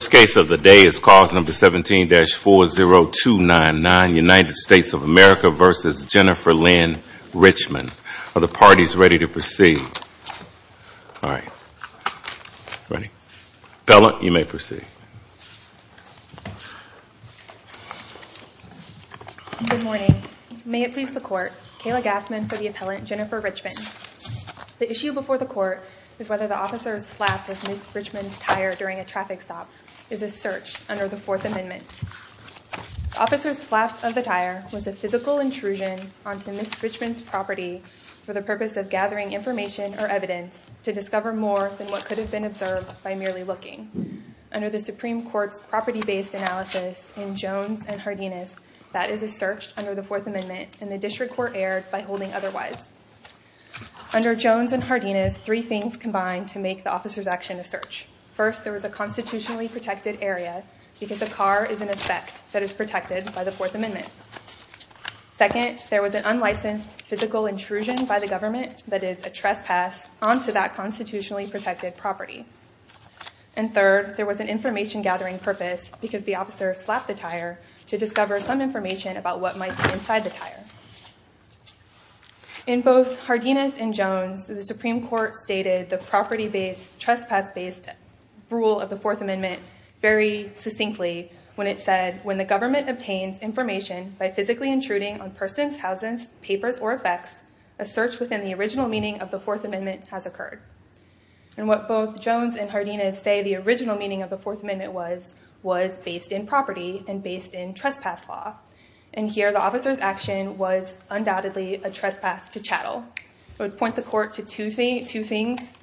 The first case of the day is cause number 17-40299, United States of America v. Jennifer Lynn Richmond. Are the parties ready to proceed? All right, ready? Appellant, you may proceed. Good morning. May it please the court, Kayla Gassman for the appellant Jennifer Richmond. The issue before the court is whether the officer slapped with Ms. Richmond's tire during a traffic stop is a search under the Fourth Amendment. The officer's slap of the tire was a physical intrusion onto Ms. Richmond's property for the purpose of gathering information or evidence to discover more than what could have been observed by merely looking. Under the Supreme Court's property-based analysis in Jones and Hardinas, that is a search under the Fourth Amendment, and the district court erred by holding otherwise. Under Jones and protected area because a car is an aspect that is protected by the Fourth Amendment. Second, there was an unlicensed physical intrusion by the government that is a trespass onto that constitutionally protected property. And third, there was an information-gathering purpose because the officer slapped the tire to discover some information about what might be inside the tire. In both Hardinas and Jones, the Supreme Court stated the property-based rule of the Fourth Amendment very succinctly when it said, when the government obtains information by physically intruding on persons, houses, papers, or effects, a search within the original meaning of the Fourth Amendment has occurred. And what both Jones and Hardinas say the original meaning of the Fourth Amendment was, was based in property and based in trespass law. And here the officer's action was undoubtedly a trespass to chattel. I would point the court to two things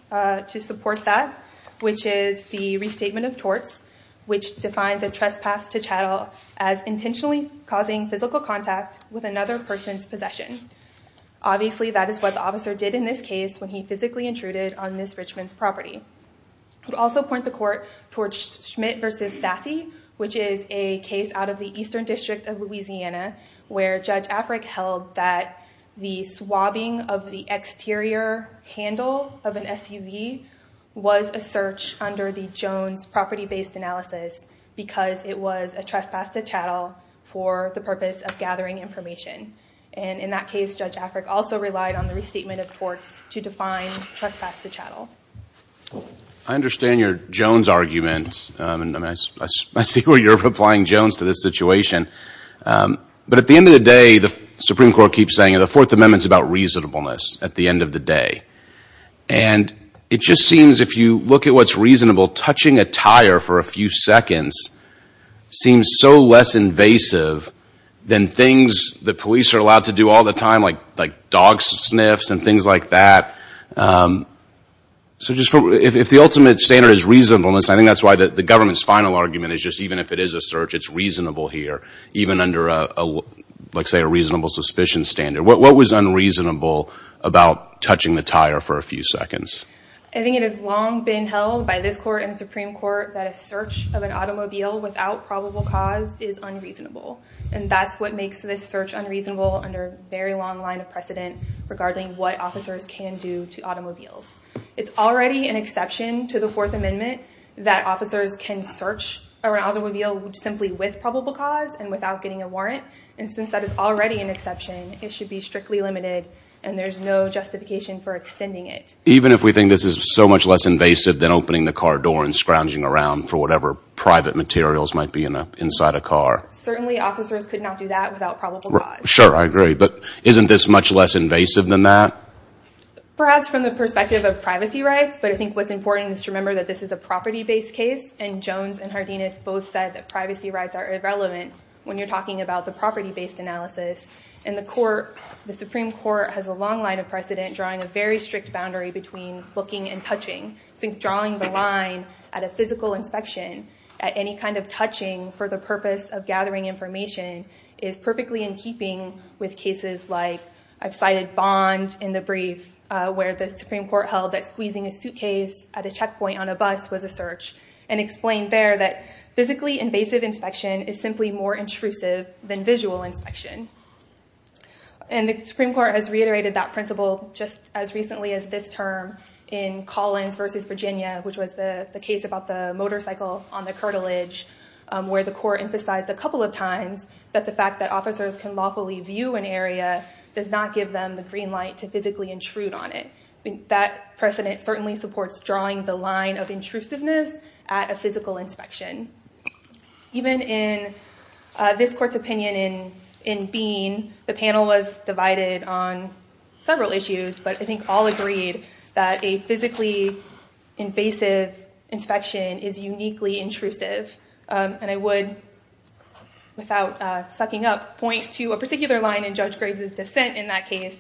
to support that, which is the restatement of torts, which defines a trespass to chattel as intentionally causing physical contact with another person's possession. Obviously, that is what the officer did in this case when he physically intruded on Ms. Richmond's property. I would also point the court towards Schmidt v. Stassi, which is a case out of the Eastern District of Louisiana, where Judge Afric held that the swabbing of the exterior handle of an SUV was a search under the Jones property-based analysis because it was a trespass to chattel for the purpose of gathering information. And in that case, Judge Afric also relied on the restatement of torts to define trespass to chattel. I understand your Jones argument. I see where you're applying Jones to this situation. But at the end of the day, the Supreme Court keeps saying the Fourth Amendment's about reasonableness at the end of the day. And it just seems if you look at what's reasonable, touching a tire for a few seconds seems so less invasive than things that police are allowed to do all the time, like dog sniffs and things like that. So if the ultimate standard is reasonableness, I think that's why the government's final argument is just even if it is a search, it's a reasonable suspicion standard. What was unreasonable about touching the tire for a few seconds? I think it has long been held by this Court and the Supreme Court that a search of an automobile without probable cause is unreasonable. And that's what makes this search unreasonable under a very long line of precedent regarding what officers can do to automobiles. It's already an exception to the Fourth Amendment that officers can search an automobile simply with probable cause and without getting a warrant. And since that is already an exception, it should be strictly limited and there's no justification for extending it. Even if we think this is so much less invasive than opening the car door and scrounging around for whatever private materials might be inside a car? Certainly officers could not do that without probable cause. Sure, I agree. But isn't this much less invasive than that? Perhaps from the perspective of privacy rights, but I think what's important is to remember that this is a property-based case. And Jones and Hardinus both said that privacy rights are irrelevant when you're talking about the property-based analysis. In the Court, the Supreme Court has a long line of precedent drawing a very strict boundary between looking and touching. So drawing the line at a physical inspection, at any kind of touching for the purpose of gathering information, is perfectly in keeping with cases like, I've cited Bond in the brief, where the Supreme Court held that squeezing a suitcase at a bus was a search, and explained there that physically invasive inspection is simply more intrusive than visual inspection. And the Supreme Court has reiterated that principle just as recently as this term in Collins v. Virginia, which was the case about the motorcycle on the curtilage, where the Court emphasized a couple of times that the fact that officers can lawfully view an area does not give them the green light to physically intrude on it. That precedent certainly supports drawing the line of intrusiveness at a physical inspection. Even in this Court's opinion in Bean, the panel was divided on several issues, but I think all agreed that a physically invasive inspection is uniquely intrusive. And I would, without sucking up, point to a particular line in Judge Graves' dissent in that case,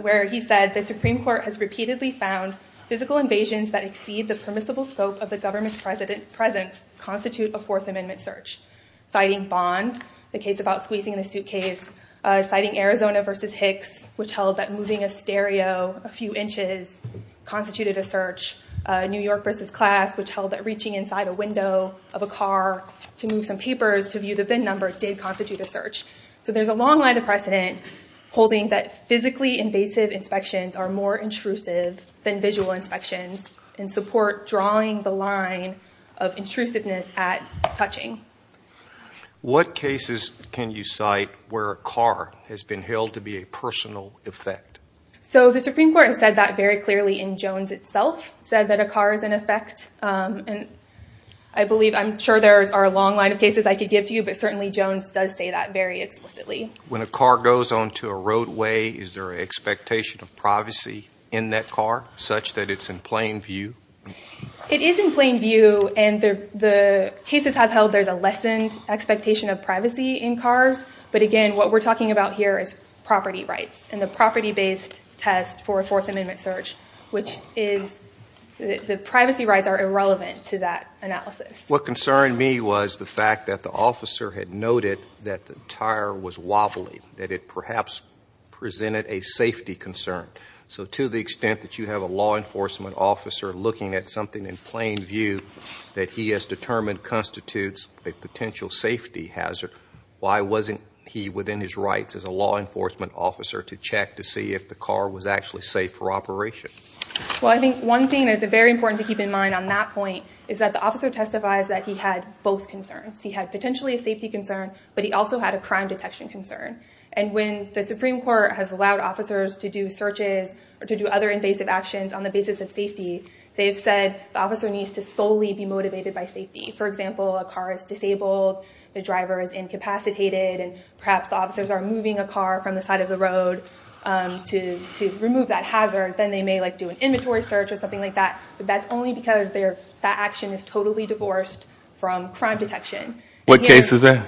where he said, the Supreme Court has repeatedly found physical invasions that exceed the permissible scope of the government's presence constitute a Fourth Amendment search. Citing Bond, the case about squeezing a suitcase, citing Arizona v. Hicks, which held that moving a stereo a few inches constituted a search, New York v. Class, which held that reaching inside a window of a car to move some papers to view the VIN number did constitute a search. So there's a long line of precedent holding that physically invasive inspections are more intrusive than visual inspections and support drawing the line of intrusiveness at touching. What cases can you cite where a car has been held to be a personal effect? So the Supreme Court has said that very clearly, and Jones itself said that a car is an effect. I believe, I'm sure there are a long line of cases I could give to you, but certainly Jones does say that very explicitly. When a car goes onto a roadway, is there an expectation of privacy in that car, such that it's in plain view? It is in plain view, and the cases have held there's a lessened expectation of privacy in cars, but again, what we're talking about here is property rights, and the property-based test for a Fourth Amendment search, which is, the privacy rights are irrelevant to that analysis. What concerned me was the fact that the officer had noted that the tire was wobbly, that it perhaps presented a safety concern. So to the extent that you have a law enforcement officer looking at something in plain view that he has determined constitutes a potential safety hazard, why wasn't he, within his rights as a law enforcement officer, to check to see if the car was actually safe for operation? Well, I think one thing that's very important to keep in mind on that point is that the officer has that he had both concerns. He had potentially a safety concern, but he also had a crime detection concern, and when the Supreme Court has allowed officers to do searches or to do other invasive actions on the basis of safety, they have said the officer needs to solely be motivated by safety. For example, a car is disabled, the driver is incapacitated, and perhaps the officers are moving a car from the side of the road to remove that hazard, then they may do an inventory search or something like that, but that's only because that action is totally divorced from crime detection. What case is that?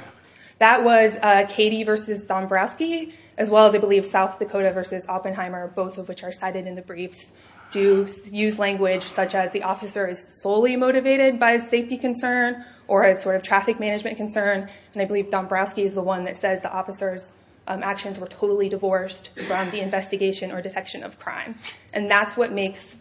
That was Cady v. Dombrowski, as well as, I believe, South Dakota v. Oppenheimer, both of which are cited in the briefs, do use language such as the officer is solely motivated by a safety concern or a sort of traffic management concern, and I believe Dombrowski is the one that says the officer's actions were totally divorced from the investigation or detection of crime, and that's what makes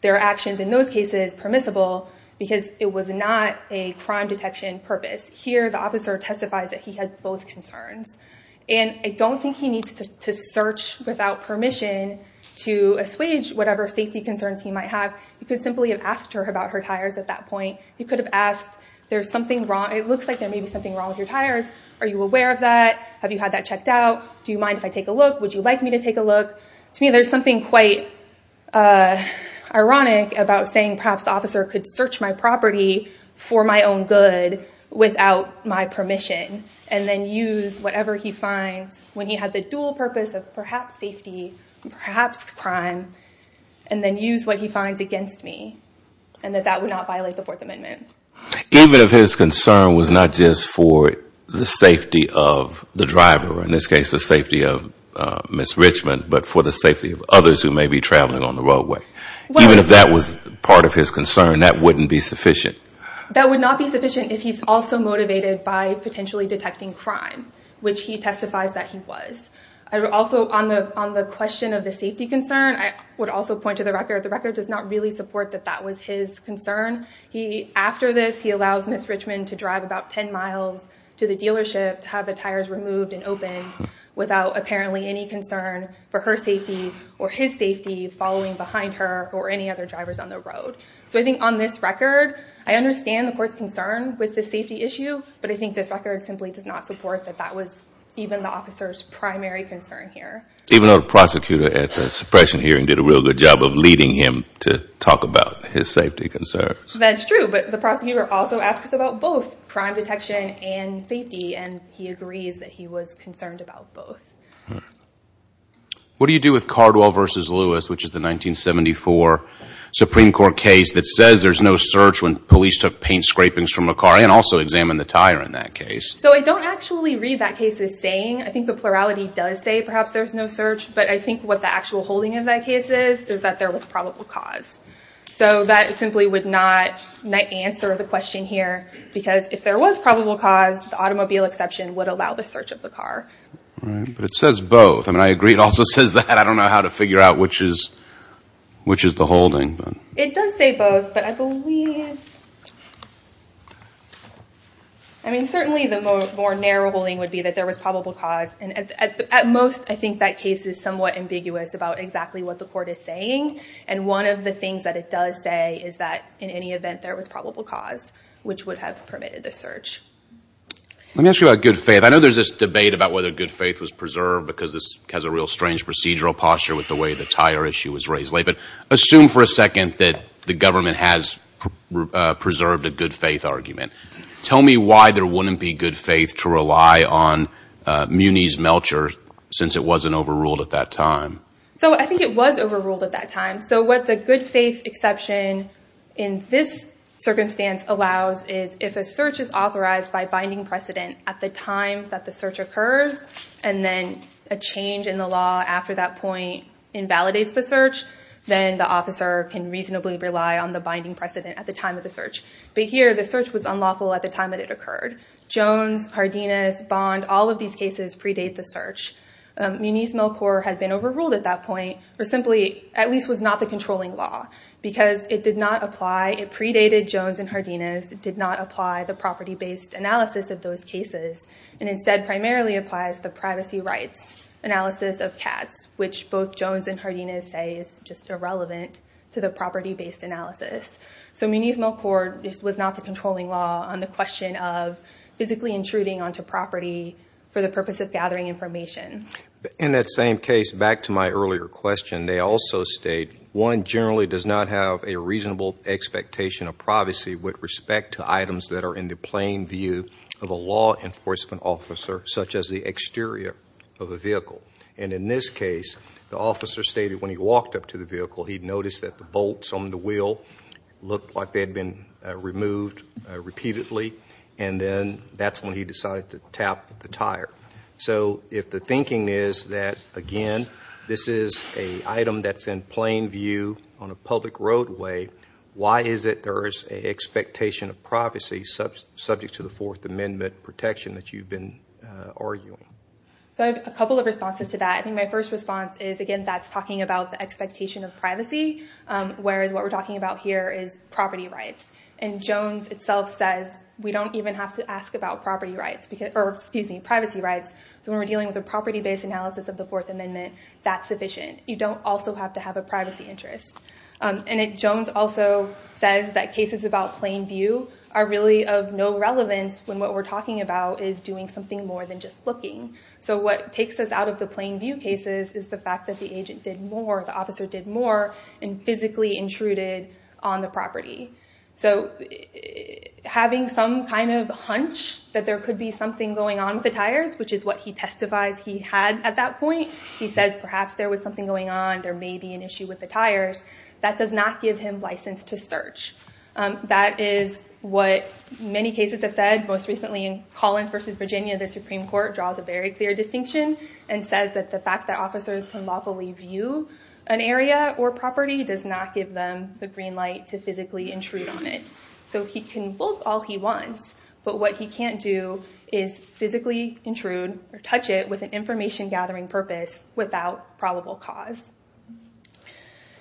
their actions in those cases permissible because it was not a crime detection purpose. Here, the officer testifies that he had both concerns, and I don't think he needs to search without permission to assuage whatever safety concerns he might have. You could simply have asked her about her tires at that point. You could have asked, it looks like there may be something wrong with your tires. Are you aware of that? Have you had that checked out? Do you mind if I take a look? Would you like me to take a look? To me, there's something quite ironic about saying perhaps the officer could search my for my own good without my permission and then use whatever he finds when he had the dual purpose of perhaps safety, perhaps crime, and then use what he finds against me, and that that would not violate the Fourth Amendment. Even if his concern was not just for the safety of the driver, or in this case the safety of Ms. Richmond, but for the safety of others who may be traveling on the roadway. Even if that was part of his concern, that wouldn't be sufficient. That would not be sufficient if he's also motivated by potentially detecting crime, which he testifies that he was. Also on the question of the safety concern, I would also point to the record. The record does not really support that that was his concern. After this, he allows Ms. Richmond to drive about 10 miles to the dealership to have the tires removed and opened without apparently any concern for her safety or his safety following behind her or any other drivers on the road. So I think on this record, I understand the court's concern with the safety issue, but I think this record simply does not support that that was even the officer's primary concern here. Even though the prosecutor at the suppression hearing did a real good job of leading him to talk about his safety concerns. That's true, but the prosecutor also asks about both crime detection and safety, and he agrees that he was concerned about both. What do you do with Cardwell v. Lewis, which is the 1974 Supreme Court case that says there's no search when police took paint scrapings from a car and also examined the tire in that case? So I don't actually read that case as saying, I think the plurality does say perhaps there's no search, but I think what the actual holding of that case is, is that there was probable cause. So that simply would not answer the question here, because if there was probable cause, the automobile exception would allow the search of the car. Right. But it says both. I mean, I agree. It also says that. I don't know how to figure out which is, which is the holding. It does say both, but I believe, I mean, certainly the more narrow holding would be that there was probable cause, and at most, I think that case is somewhat ambiguous about exactly what the court is saying. And one of the things that it does say is that in any event, there was probable cause, which would have permitted the search. Let me ask you about good faith. I know there's this debate about whether good faith was preserved, because this has a real strange procedural posture with the way the tire issue was raised. But assume for a second that the government has preserved a good faith argument. Tell me why there wouldn't be good faith to rely on Muni's Melcher, since it wasn't overruled at that time. So I think it was overruled at that time. So what the good faith exception in this circumstance allows is if a search is authorized by binding precedent at the time that the search occurs, and then a change in the law after that point invalidates the search, then the officer can reasonably rely on the binding precedent at the time of the search. But here, the search was unlawful at the time that it occurred. Jones, Hardinas, Bond, all of these cases predate the search. Muni's Melcher had been overruled at that point, or simply, at least was not the controlling law, because it did not apply, it predated Jones and Hardinas, it did not apply the property-based analysis of those cases, and instead primarily applies the privacy rights analysis of CATS, which both Jones and Hardinas say is just irrelevant to the property-based analysis. So Muni's Melcher was not the controlling law on the question of physically intruding onto property for the purpose of gathering information. In that same case, back to my earlier question, they also state, one generally does not have a reasonable expectation of privacy with respect to items that are in the plain view of a law enforcement officer, such as the exterior of a vehicle. And in this case, the officer stated when he walked up to the vehicle, he'd noticed that the bolts on the wheel looked like they had been removed repeatedly, and then that's when he decided to tap the tire. So if the thinking is that, again, this is an item that's in plain view on a public roadway, why is it there is an expectation of privacy subject to the Fourth Amendment protection that you've been arguing? So I have a couple of responses to that. I think my first response is, again, that's talking about the expectation of privacy, whereas what we're talking about here is property rights. And Jones itself says, we don't even have to ask about property rights, or excuse me, privacy rights. So when we're dealing with a property-based analysis of the Fourth Amendment, that's sufficient. You don't also have to have a privacy interest. And Jones also says that cases about plain view are really of no relevance when what we're talking about is doing something more than just looking. So what takes us out of the plain view cases is the fact that the agent did more, the officer did more, and physically intruded on the property. So having some kind of hunch that there could be something going on with the tires, which is what he testifies he had at that point, he says perhaps there was something going on, there may be an issue with the tires, that does not give him license to search. That is what many cases have said. Most recently in Collins v. Virginia, the Supreme Court draws a very clear distinction and says that the fact that officers can lawfully view an area or property does not give them the green light to physically intrude on it. So he can look all he wants, but what he can't do is physically intrude or touch it with an information-gathering purpose without probable cause.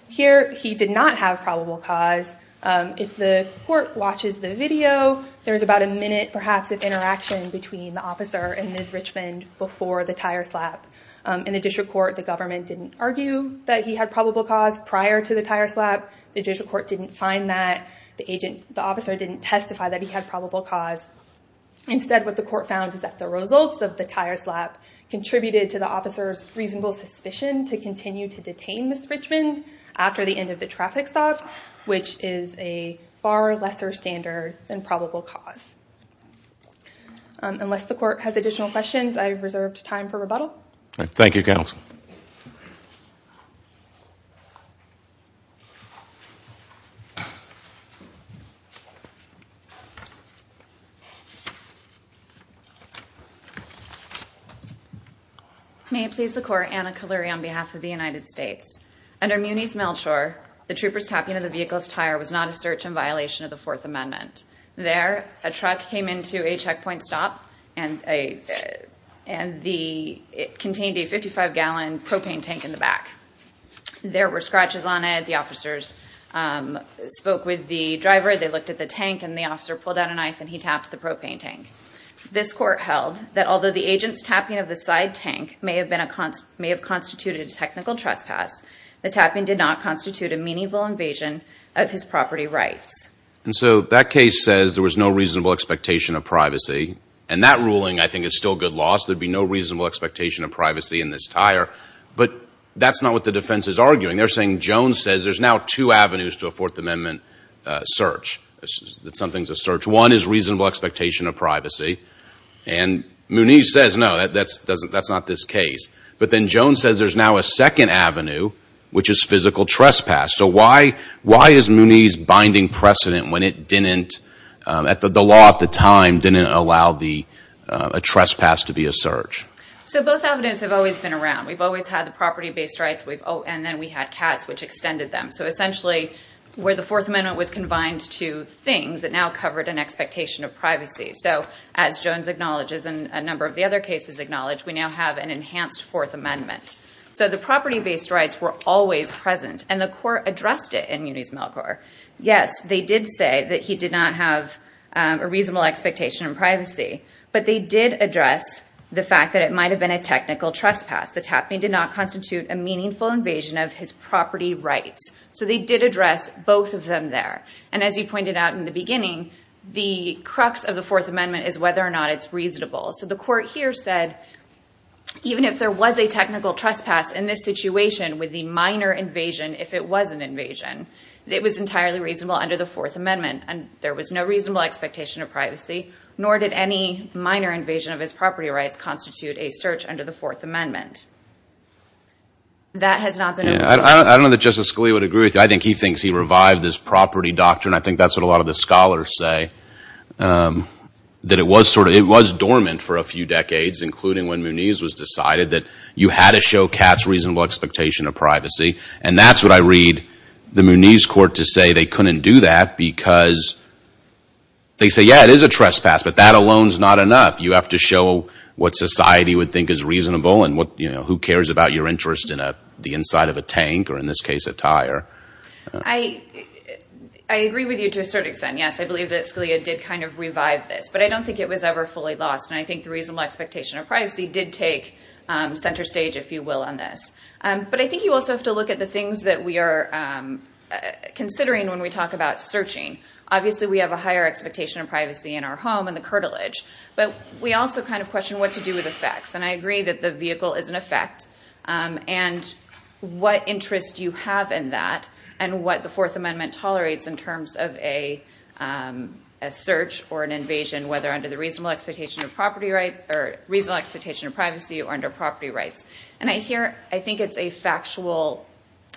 Here he did not have probable cause. If the court watches the video, there's about a minute, perhaps, of interaction between the officer and Ms. Richmond before the tire slap. In the district court, the government didn't argue that he had probable cause prior to the tire slap. The district court didn't find that. The officer didn't testify that he had probable cause. Instead, what the court found is that the results of the tire slap contributed to the officer's reasonable suspicion to continue to detain Ms. Richmond after the end of the traffic stop, which is a far lesser standard than probable cause. Thank you, Counsel. May it please the Court, Anna Kaleri on behalf of the United States. Under Muni's Melchor, the trooper's tapping of the vehicle's tire was not a search in violation of the Fourth Amendment. There, a truck came into a checkpoint stop and it contained a 55-gallon propane tank in the back. There were scratches on it. The officers spoke with the driver. They looked at the tank and the officer pulled out a knife and he tapped the propane tank. This court held that although the agent's tapping of the side tank may have constituted a technical trespass, the tapping did not constitute a meaningful invasion of his property rights. And so that case says there was no reasonable expectation of privacy, and that ruling I think is still good law. So there'd be no reasonable expectation of privacy in this tire, but that's not what the defense is arguing. They're saying Jones says there's now two avenues to a Fourth Amendment search, that something's a search. One is reasonable expectation of privacy, and Muni says no, that's not this case. But then Jones says there's now a second avenue, which is physical trespass. So why is Muni's binding precedent when the law at the time didn't allow a trespass to be a search? So both avenues have always been around. We've always had the property-based rights and then we had cats, which extended them. So essentially where the Fourth Amendment was confined to things, it now covered an expectation of privacy. So as Jones acknowledges and a number of the other cases acknowledge, we now have an enhanced Fourth Amendment. So the property-based rights were always present and the court addressed it in Muni's Melkor. Yes, they did say that he did not have a reasonable expectation of privacy, but they did address the fact that it might have been a technical trespass. The tapping did not constitute a meaningful invasion of his property rights. So they did address both of them there. And as you pointed out in the beginning, the crux of the Fourth Amendment is whether or not it's reasonable. So the court here said, even if there was a technical trespass in this situation with the minor invasion, if it was an invasion, it was entirely reasonable under the Fourth Amendment and there was no reasonable expectation of privacy, nor did any minor invasion of his property rights constitute a search under the Fourth Amendment. That has not been— I don't know that Justice Scalia would agree with you. I think he thinks he revived this property doctrine. I think that's what a lot of the scholars say, that it was dormant for a few decades, including when Muni's was decided that you had to show Katz's reasonable expectation of privacy. And that's what I read the Muni's court to say they couldn't do that because they say, yeah, it is a trespass, but that alone is not enough. You have to show what society would think is reasonable and who cares about your interest in the inside of a tank or, in this case, a tire. I agree with you to a certain extent, yes. I believe that Scalia did kind of revive this, but I don't think it was ever fully lost. And I think the reasonable expectation of privacy did take center stage, if you will, on this. But I think you also have to look at the things that we are considering when we talk about searching. Obviously, we have a higher expectation of privacy in our home and the curtilage, but we also kind of question what to do with effects. And I agree that the vehicle is an effect. And what interest do you have in that and what the Fourth Amendment tolerates in terms of a search or an invasion, whether under the reasonable expectation of property rights or reasonable expectation of privacy or under property rights. And I think it's a factual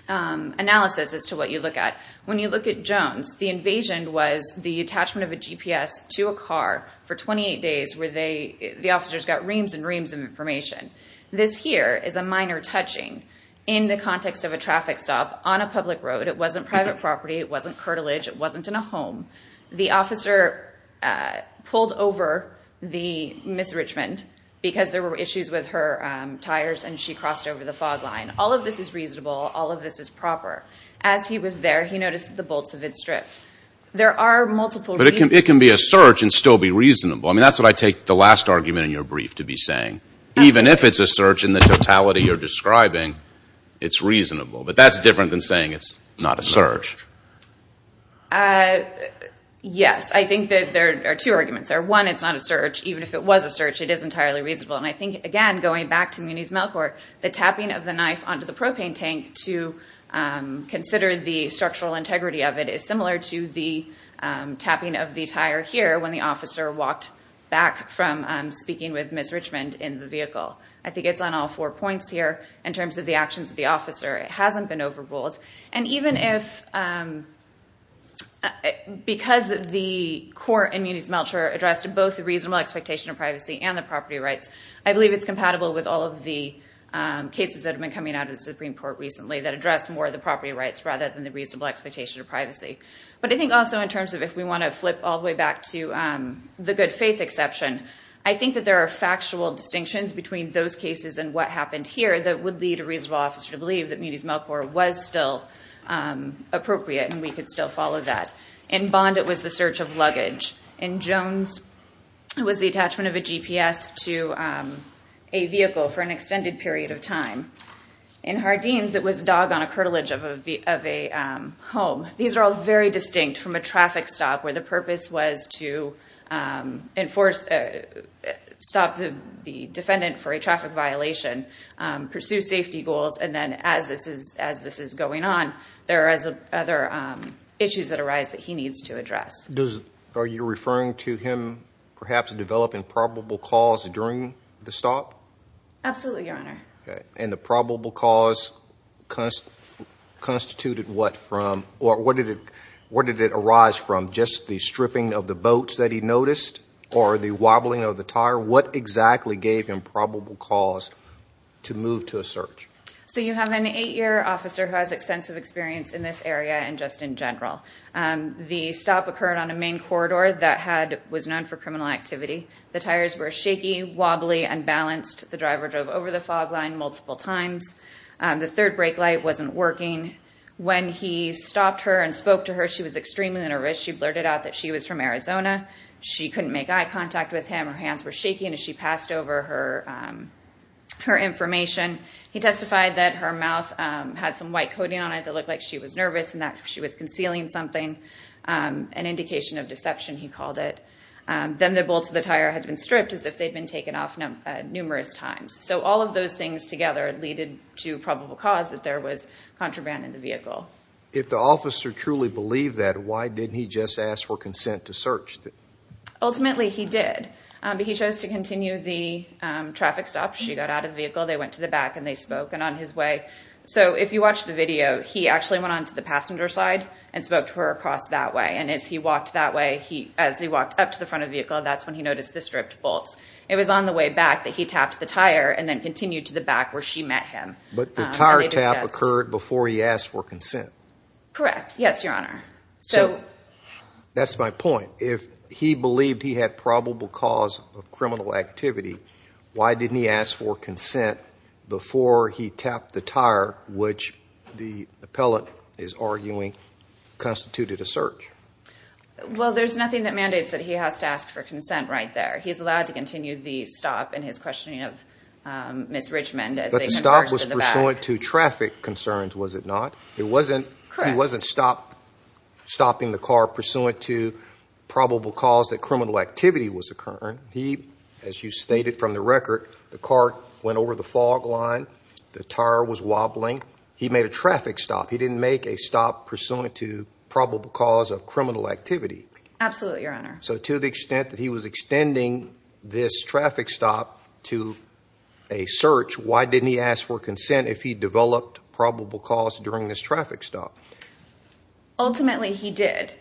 analysis as to what you look at. When you look at Jones, the invasion was the attachment of a GPS to a car for 28 days where the officers got reams and reams of information. This here is a minor touching in the context of a traffic stop on a public road. It wasn't private property. It wasn't curtilage. It wasn't in a home. The officer pulled over the Ms. Richmond because there were issues with her tires, and she crossed over the fog line. All of this is reasonable. All of this is proper. As he was there, he noticed that the bolts had been stripped. There are multiple reasons. But it can be a search and still be reasonable. I mean, that's what I take the last argument in your brief to be saying. Even if it's a search in the totality you're describing, it's reasonable. But that's different than saying it's not a search. Yes. I think that there are two arguments there. One, it's not a search. Even if it was a search, it is entirely reasonable. And I think, again, going back to Muniz-Melkor, the tapping of the knife onto the propane tank to consider the structural integrity of it is similar to the tapping of the tire here when the officer walked back from speaking with Ms. Richmond in the vehicle. I think it's on all four points here in terms of the actions of the officer. It hasn't been overruled. And even if because the court in Muniz-Melkor addressed both the reasonable expectation of privacy and the property rights, I believe it's compatible with all of the cases that have been coming out of the Supreme Court recently that address more of the property rights rather than the reasonable expectation of privacy. But I think also in terms of if we want to flip all the way back to the good faith exception, I think that there are factual distinctions between those cases and what happened here that would lead a reasonable officer to believe that Muniz-Melkor was still appropriate and we could still follow that. In Bond, it was the search of luggage. In Jones, it was the attachment of a GPS to a vehicle for an extended period of time. In Hardeen's, it was a dog on a curtilage of a home. These are all very distinct from a traffic stop where the purpose was to stop the defendant for a traffic violation, pursue safety goals, and then as this is going on, there are other issues that arise that he needs to address. Are you referring to him perhaps developing probable cause during the stop? Absolutely, Your Honor. And the probable cause constituted what from, or what did it arise from? Just the stripping of the boats that he noticed or the wobbling of the tire? What exactly gave him probable cause to move to a search? So you have an eight-year officer who has extensive experience in this area and just in general. The stop occurred on a main corridor that was known for criminal activity. The tires were shaky, wobbly, unbalanced. The driver drove over the fog line multiple times. The third brake light wasn't working. When he stopped her and spoke to her, she was extremely nervous. She blurted out that she was from Arizona. She couldn't make eye contact with him. Her hands were shaking as she passed over her information. He testified that her mouth had some white coating on it that looked like she was nervous and that she was concealing something, an indication of deception, he called it. Then the bolts of the tire had been stripped as if they'd been taken off numerous times. So all of those things together lead to probable cause that there was contraband in the vehicle. If the officer truly believed that, why didn't he just ask for consent to search? Ultimately, he did, but he chose to continue the traffic stop. She got out of the vehicle. They went to the back and they spoke and on his way. So if you watch the video, he actually went onto the passenger side and spoke to her across that way. And as he walked that way, as he walked up to the front of the vehicle, that's when he noticed the stripped bolts. It was on the way back that he tapped the tire and then continued to the back where she met him. But the tire tap occurred before he asked for consent. Correct. Yes, your honor. So that's my point. If he believed he had probable cause of criminal activity, why didn't he ask for consent before he tapped the tire, which the appellant is arguing constituted a search? Well, there's nothing that mandates that he has to ask for consent right there. He's allowed to continue the stop in his questioning of Ms. Richmond as they converge to the back. But the stop was pursuant to traffic concerns, was it not? It wasn't. Correct. He wasn't stopping the car pursuant to probable cause that criminal activity was occurring. As you stated from the record, the car went over the fog line, the tire was wobbling. He made a traffic stop. He didn't make a stop pursuant to probable cause of criminal activity. Absolutely, your honor. So to the extent that he was extending this traffic stop to a search, why didn't he ask for consent if he developed probable cause during this traffic stop? Ultimately, he did.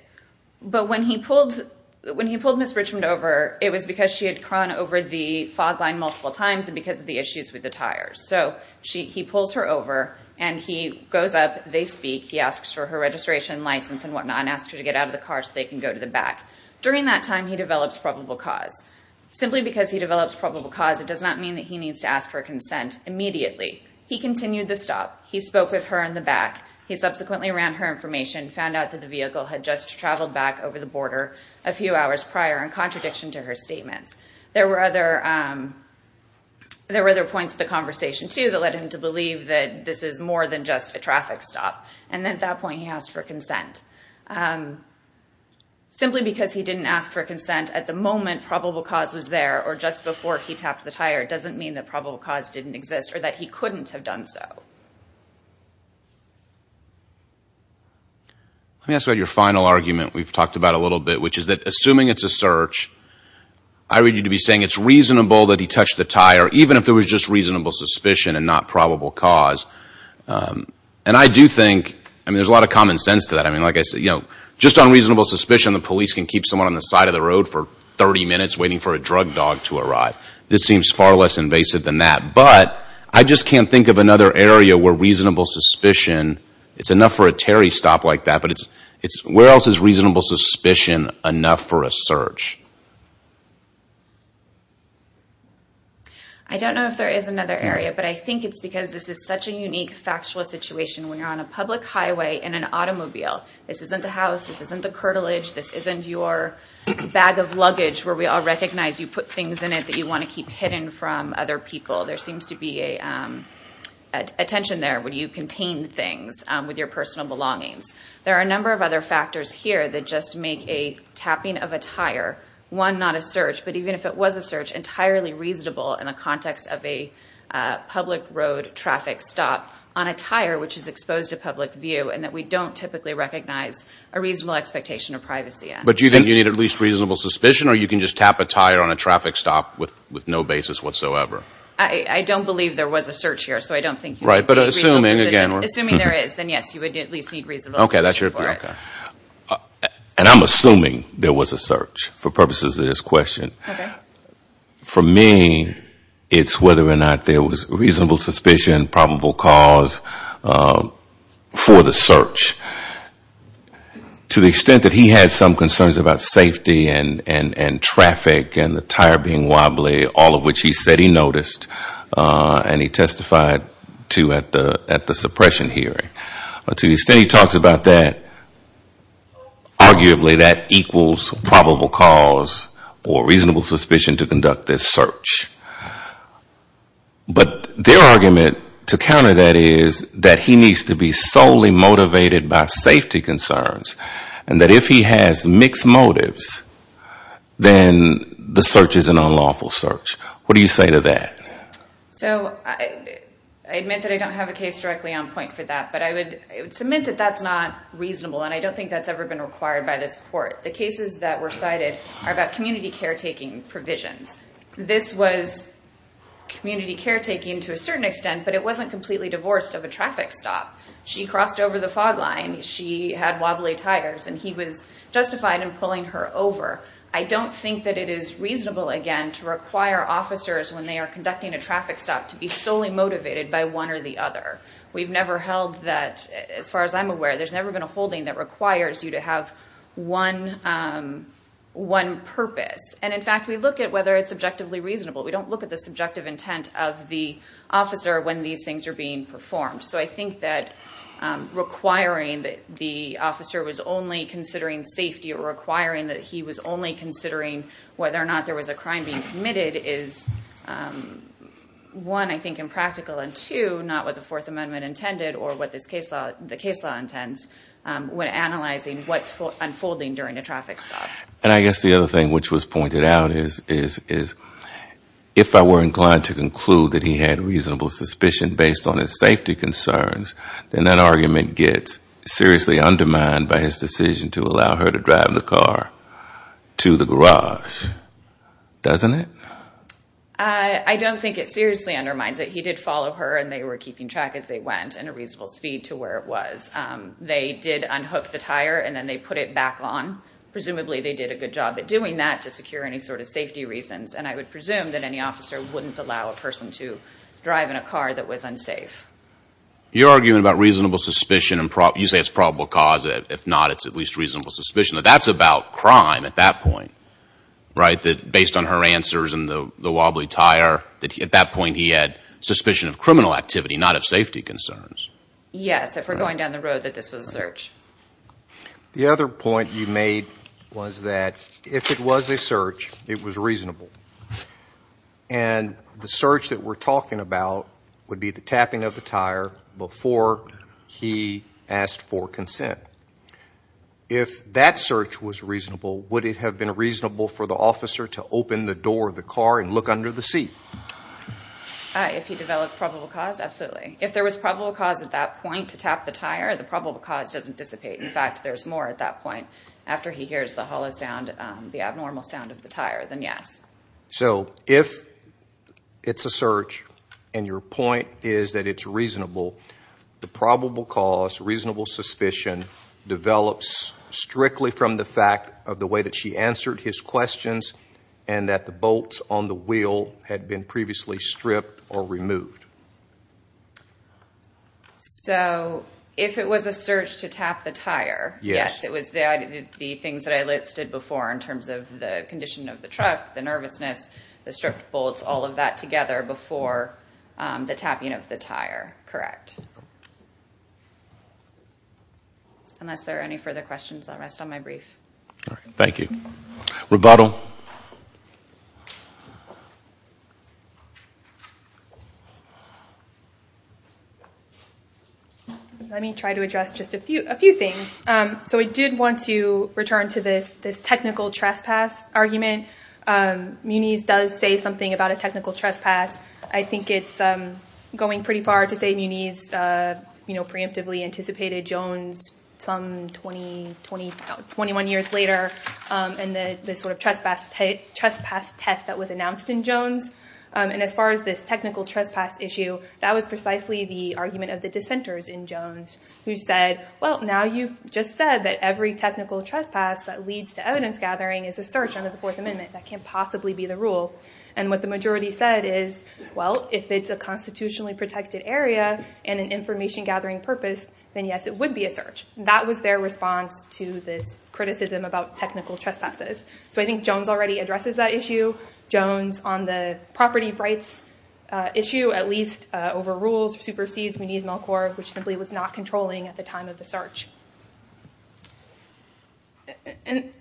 But when he pulled Ms. Richmond over, it was because she had crawled over the fog line multiple times and because of the issues with the tires. So he pulls her over and he goes up, they speak, he asks for her registration, license and whatnot and asks her to get out of the car so they can go to the back. During that time, he develops probable cause. Simply because he develops probable cause, it does not mean that he needs to ask for consent immediately. He continued the stop. He spoke with her in the back. He subsequently ran her information, found out that the vehicle had just traveled back over the border a few hours prior in contradiction to her statements. There were other points of the conversation too that led him to believe that this is more than just a traffic stop. And then at that point, he asked for consent. Simply because he didn't ask for consent at the moment probable cause was there or just before he tapped the tire doesn't mean that probable cause didn't exist or that he couldn't have done so. Let me ask about your final argument we've talked about a little bit, which is that assuming it's a search, I read you to be saying it's reasonable that he touched the tire, even if there was just reasonable suspicion and not probable cause. And I do think, I mean, there's a lot of common sense to that. I mean, like I said, you know, just on reasonable suspicion, the police can keep someone on the side of the road for 30 minutes waiting for a drug dog to arrive. This seems far less invasive than that. But I just can't think of another area where reasonable suspicion, it's enough for a Terry stop like that, but it's, where else is reasonable suspicion enough for a search? I don't know if there is another area, but I think it's because this is such a unique factual situation. When you're on a public highway in an automobile, this isn't the house, this isn't the curtilage, this isn't your bag of luggage where we all recognize you put things in it that you want to keep hidden from other people. There seems to be a tension there when you contain things with your personal belongings. There are a number of other factors here that just make a tapping of a tire, one, not a search, but even if it was a search, entirely reasonable in the context of a public road traffic stop on a tire which is exposed to public view and that we don't typically recognize a reasonable expectation of privacy in. But do you think you need at least reasonable suspicion or you can just tap a tire on a traffic stop with no basis whatsoever? I don't believe there was a search here, so I don't think you need reasonable suspicion. Assuming there is, then yes, you would at least need reasonable suspicion for it. And I'm assuming there was a search for purposes of this question. For me, it's whether or not there was reasonable suspicion, probable cause for the search. To the extent that he had some concerns about safety and traffic and the tire being wobbly, all of which he said he noticed and he testified to at the suppression hearing, to the extent he talks about that, arguably that equals probable cause or reasonable suspicion to conduct this search. But their argument to counter that is that he needs to be solely motivated by safety So, I admit that I don't have a case directly on point for that, but I would submit that that's not reasonable and I don't think that's ever been required by this court. The cases that were cited are about community caretaking provisions. This was community caretaking to a certain extent, but it wasn't completely divorced of a traffic stop. She crossed over the fog line, she had wobbly tires, and he was justified in pulling her over. I don't think that it is reasonable, again, to require officers, when they are conducting a traffic stop, to be solely motivated by one or the other. We've never held that, as far as I'm aware, there's never been a holding that requires you to have one purpose. And in fact, we look at whether it's objectively reasonable. We don't look at the subjective intent of the officer when these things are being performed. So I think that requiring that the officer was only considering safety or requiring that he was only considering whether or not there was a crime being committed is, one, I think impractical, and two, not what the Fourth Amendment intended or what the case law intends when analyzing what's unfolding during a traffic stop. And I guess the other thing which was pointed out is, if I were inclined to conclude that he had reasonable suspicion based on his safety concerns, then that argument gets seriously to the garage, doesn't it? I don't think it seriously undermines it. He did follow her and they were keeping track as they went in a reasonable speed to where it was. They did unhook the tire and then they put it back on. Presumably they did a good job at doing that to secure any sort of safety reasons, and I would presume that any officer wouldn't allow a person to drive in a car that was unsafe. You're arguing about reasonable suspicion, and you say it's probable cause, if not, it's at least reasonable suspicion. That's about crime at that point, right? Based on her answers and the wobbly tire, at that point he had suspicion of criminal activity, not of safety concerns. Yes. If we're going down the road, that this was a search. The other point you made was that if it was a search, it was reasonable. And the search that we're talking about would be the tapping of the tire before he asked for consent. If that search was reasonable, would it have been reasonable for the officer to open the door of the car and look under the seat? If he developed probable cause, absolutely. If there was probable cause at that point to tap the tire, the probable cause doesn't dissipate. In fact, there's more at that point after he hears the hollow sound, the abnormal sound of the tire, then yes. So if it's a search and your point is that it's reasonable, the probable cause, reasonable suspicion develops strictly from the fact of the way that she answered his questions and that the bolts on the wheel had been previously stripped or removed. So if it was a search to tap the tire, yes, it was the things that I listed before in terms of the condition of the truck, the nervousness, the stripped bolts, all of that together before the tapping of the tire, correct? Unless there are any further questions, I'll rest on my brief. Thank you. Roboto? Let me try to address just a few things. So I did want to return to this technical trespass argument. Muniz does say something about a technical trespass. I think it's going pretty far to say Muniz preemptively anticipated Jones some 21 years later in the sort of trespass test that was announced in Jones. And as far as this technical trespass issue, that was precisely the argument of the dissenters in Jones, who said, well, now you've just said that every technical trespass that leads to evidence gathering is a search under the Fourth Amendment. That can't possibly be the rule. And what the majority said is, well, if it's a constitutionally protected area and an information gathering purpose, then yes, it would be a search. That was their response to this criticism about technical trespasses. So I think Jones already addresses that issue. Jones on the property rights issue at least overrules, supersedes Muniz-Melkor, which simply was not controlling at the time of the search. And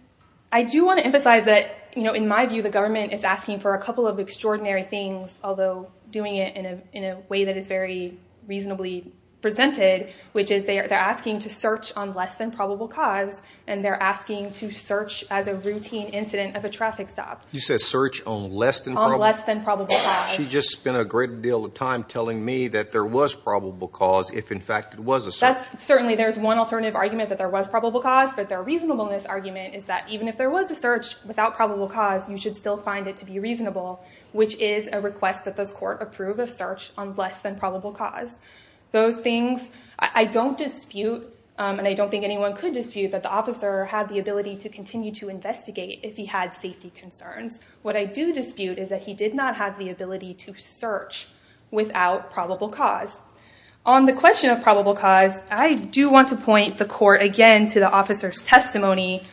I do want to emphasize that, you know, in my view, the government is asking for a couple of extraordinary things, although doing it in a way that is very reasonably presented, which is they're asking to search on less than probable cause. And they're asking to search as a routine incident of a traffic stop. You said search on less than probable cause? On less than probable cause. She just spent a great deal of time telling me that there was probable cause, if in fact it was a search. That's certainly there's one alternative argument that there was probable cause, but their reasonableness argument is that even if there was a search without probable cause, you should still find it to be reasonable, which is a request that this court approve a search on less than probable cause. Those things I don't dispute, and I don't think anyone could dispute that the officer had the ability to continue to investigate if he had safety concerns. What I do dispute is that he did not have the ability to search without probable cause. On the question of probable cause, I do want to point the court again to the officer's testimony,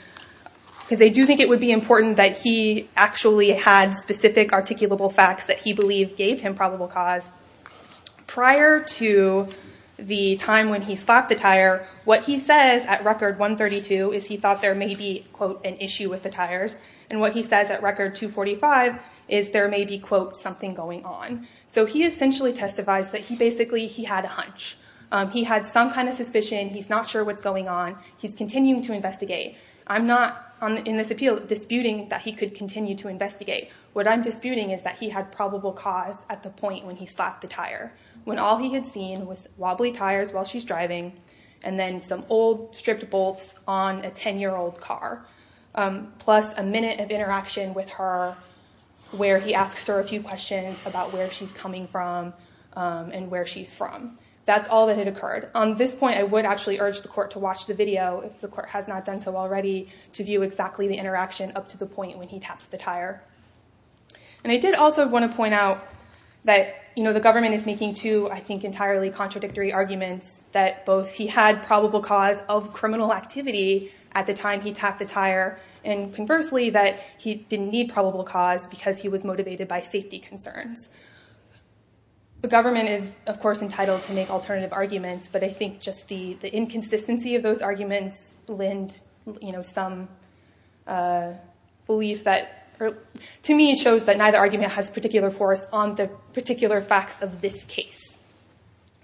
because I do think it would be important that he actually had specific articulable facts that he believed gave him probable cause. Prior to the time when he slapped the tire, what he says at record 132 is he thought there may be, quote, an issue with the tires. And what he says at record 245 is there may be, quote, something going on. So he essentially testifies that basically he had a hunch. He had some kind of suspicion. He's not sure what's going on. He's continuing to investigate. I'm not, in this appeal, disputing that he could continue to investigate. What I'm disputing is that he had probable cause at the point when he slapped the tire, when all he had seen was wobbly tires while she's driving and then some old stripped bolts on a 10-year-old car, plus a minute of interaction with her where he asks her a few questions about where she's coming from and where she's from. That's all that had occurred. On this point, I would actually urge the court to watch the video, if the court has not done so already, to view exactly the interaction up to the point when he taps the tire. And I did also want to point out that the government is making two, I think, entirely contradictory arguments that both he had probable cause of criminal activity at the time he tapped the tire and, conversely, that he didn't need probable cause because he was motivated by safety concerns. The government is, of course, entitled to make alternative arguments, but I think just the inconsistency of those arguments lend some belief that, to me, shows that neither argument has particular force on the particular facts of this case.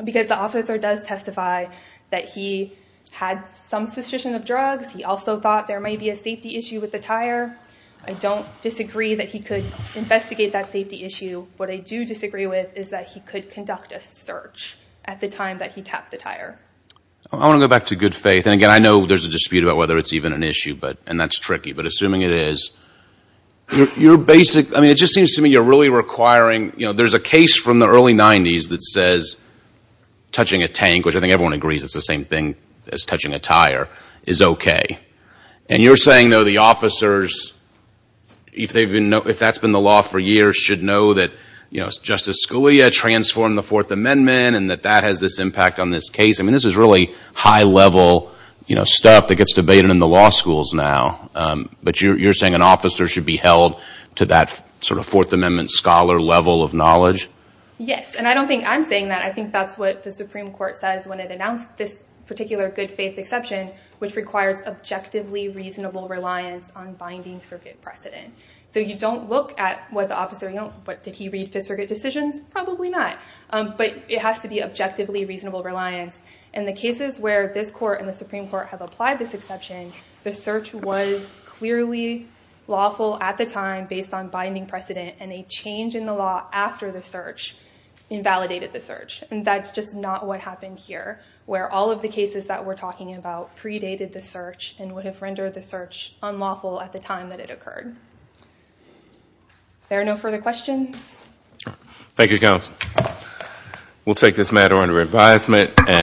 Because the officer does testify that he had some suspicion of drugs, he also thought there may be a safety issue with the tire. I don't disagree that he could investigate that safety issue. What I do disagree with is that he could conduct a search at the time that he tapped the tire. I want to go back to good faith. And, again, I know there's a dispute about whether it's even an issue, and that's tricky, but assuming it is, your basic, I mean, it just seems to me you're really requiring, you know, there's a case from the early 90s that says touching a tank, which I think everyone agrees it's the same thing as touching a tire, is okay. And you're saying, though, the officers, if that's been the law for years, should know that, you know, Justice Scalia transformed the Fourth Amendment and that that has this impact on this case. I mean, this is really high-level, you know, stuff that gets debated in the law schools now. But you're saying an officer should be held to that sort of Fourth Amendment scholar level of knowledge? Yes. And I don't think I'm saying that. I think that's what the Supreme Court says when it announced this particular good faith exception, which requires objectively reasonable reliance on binding circuit precedent. So you don't look at what the officer, you know, what, did he read Fifth Circuit decisions? Probably not. But it has to be objectively reasonable reliance. And the cases where this court and the Supreme Court have applied this exception, the search was clearly lawful at the time based on binding precedent, and a change in the law after the search invalidated the search. And that's just not what happened here, where all of the cases that we're talking about predated the search and would have rendered the search unlawful at the time that it occurred. There are no further questions? Thank you, counsel. We'll take this matter under advisement.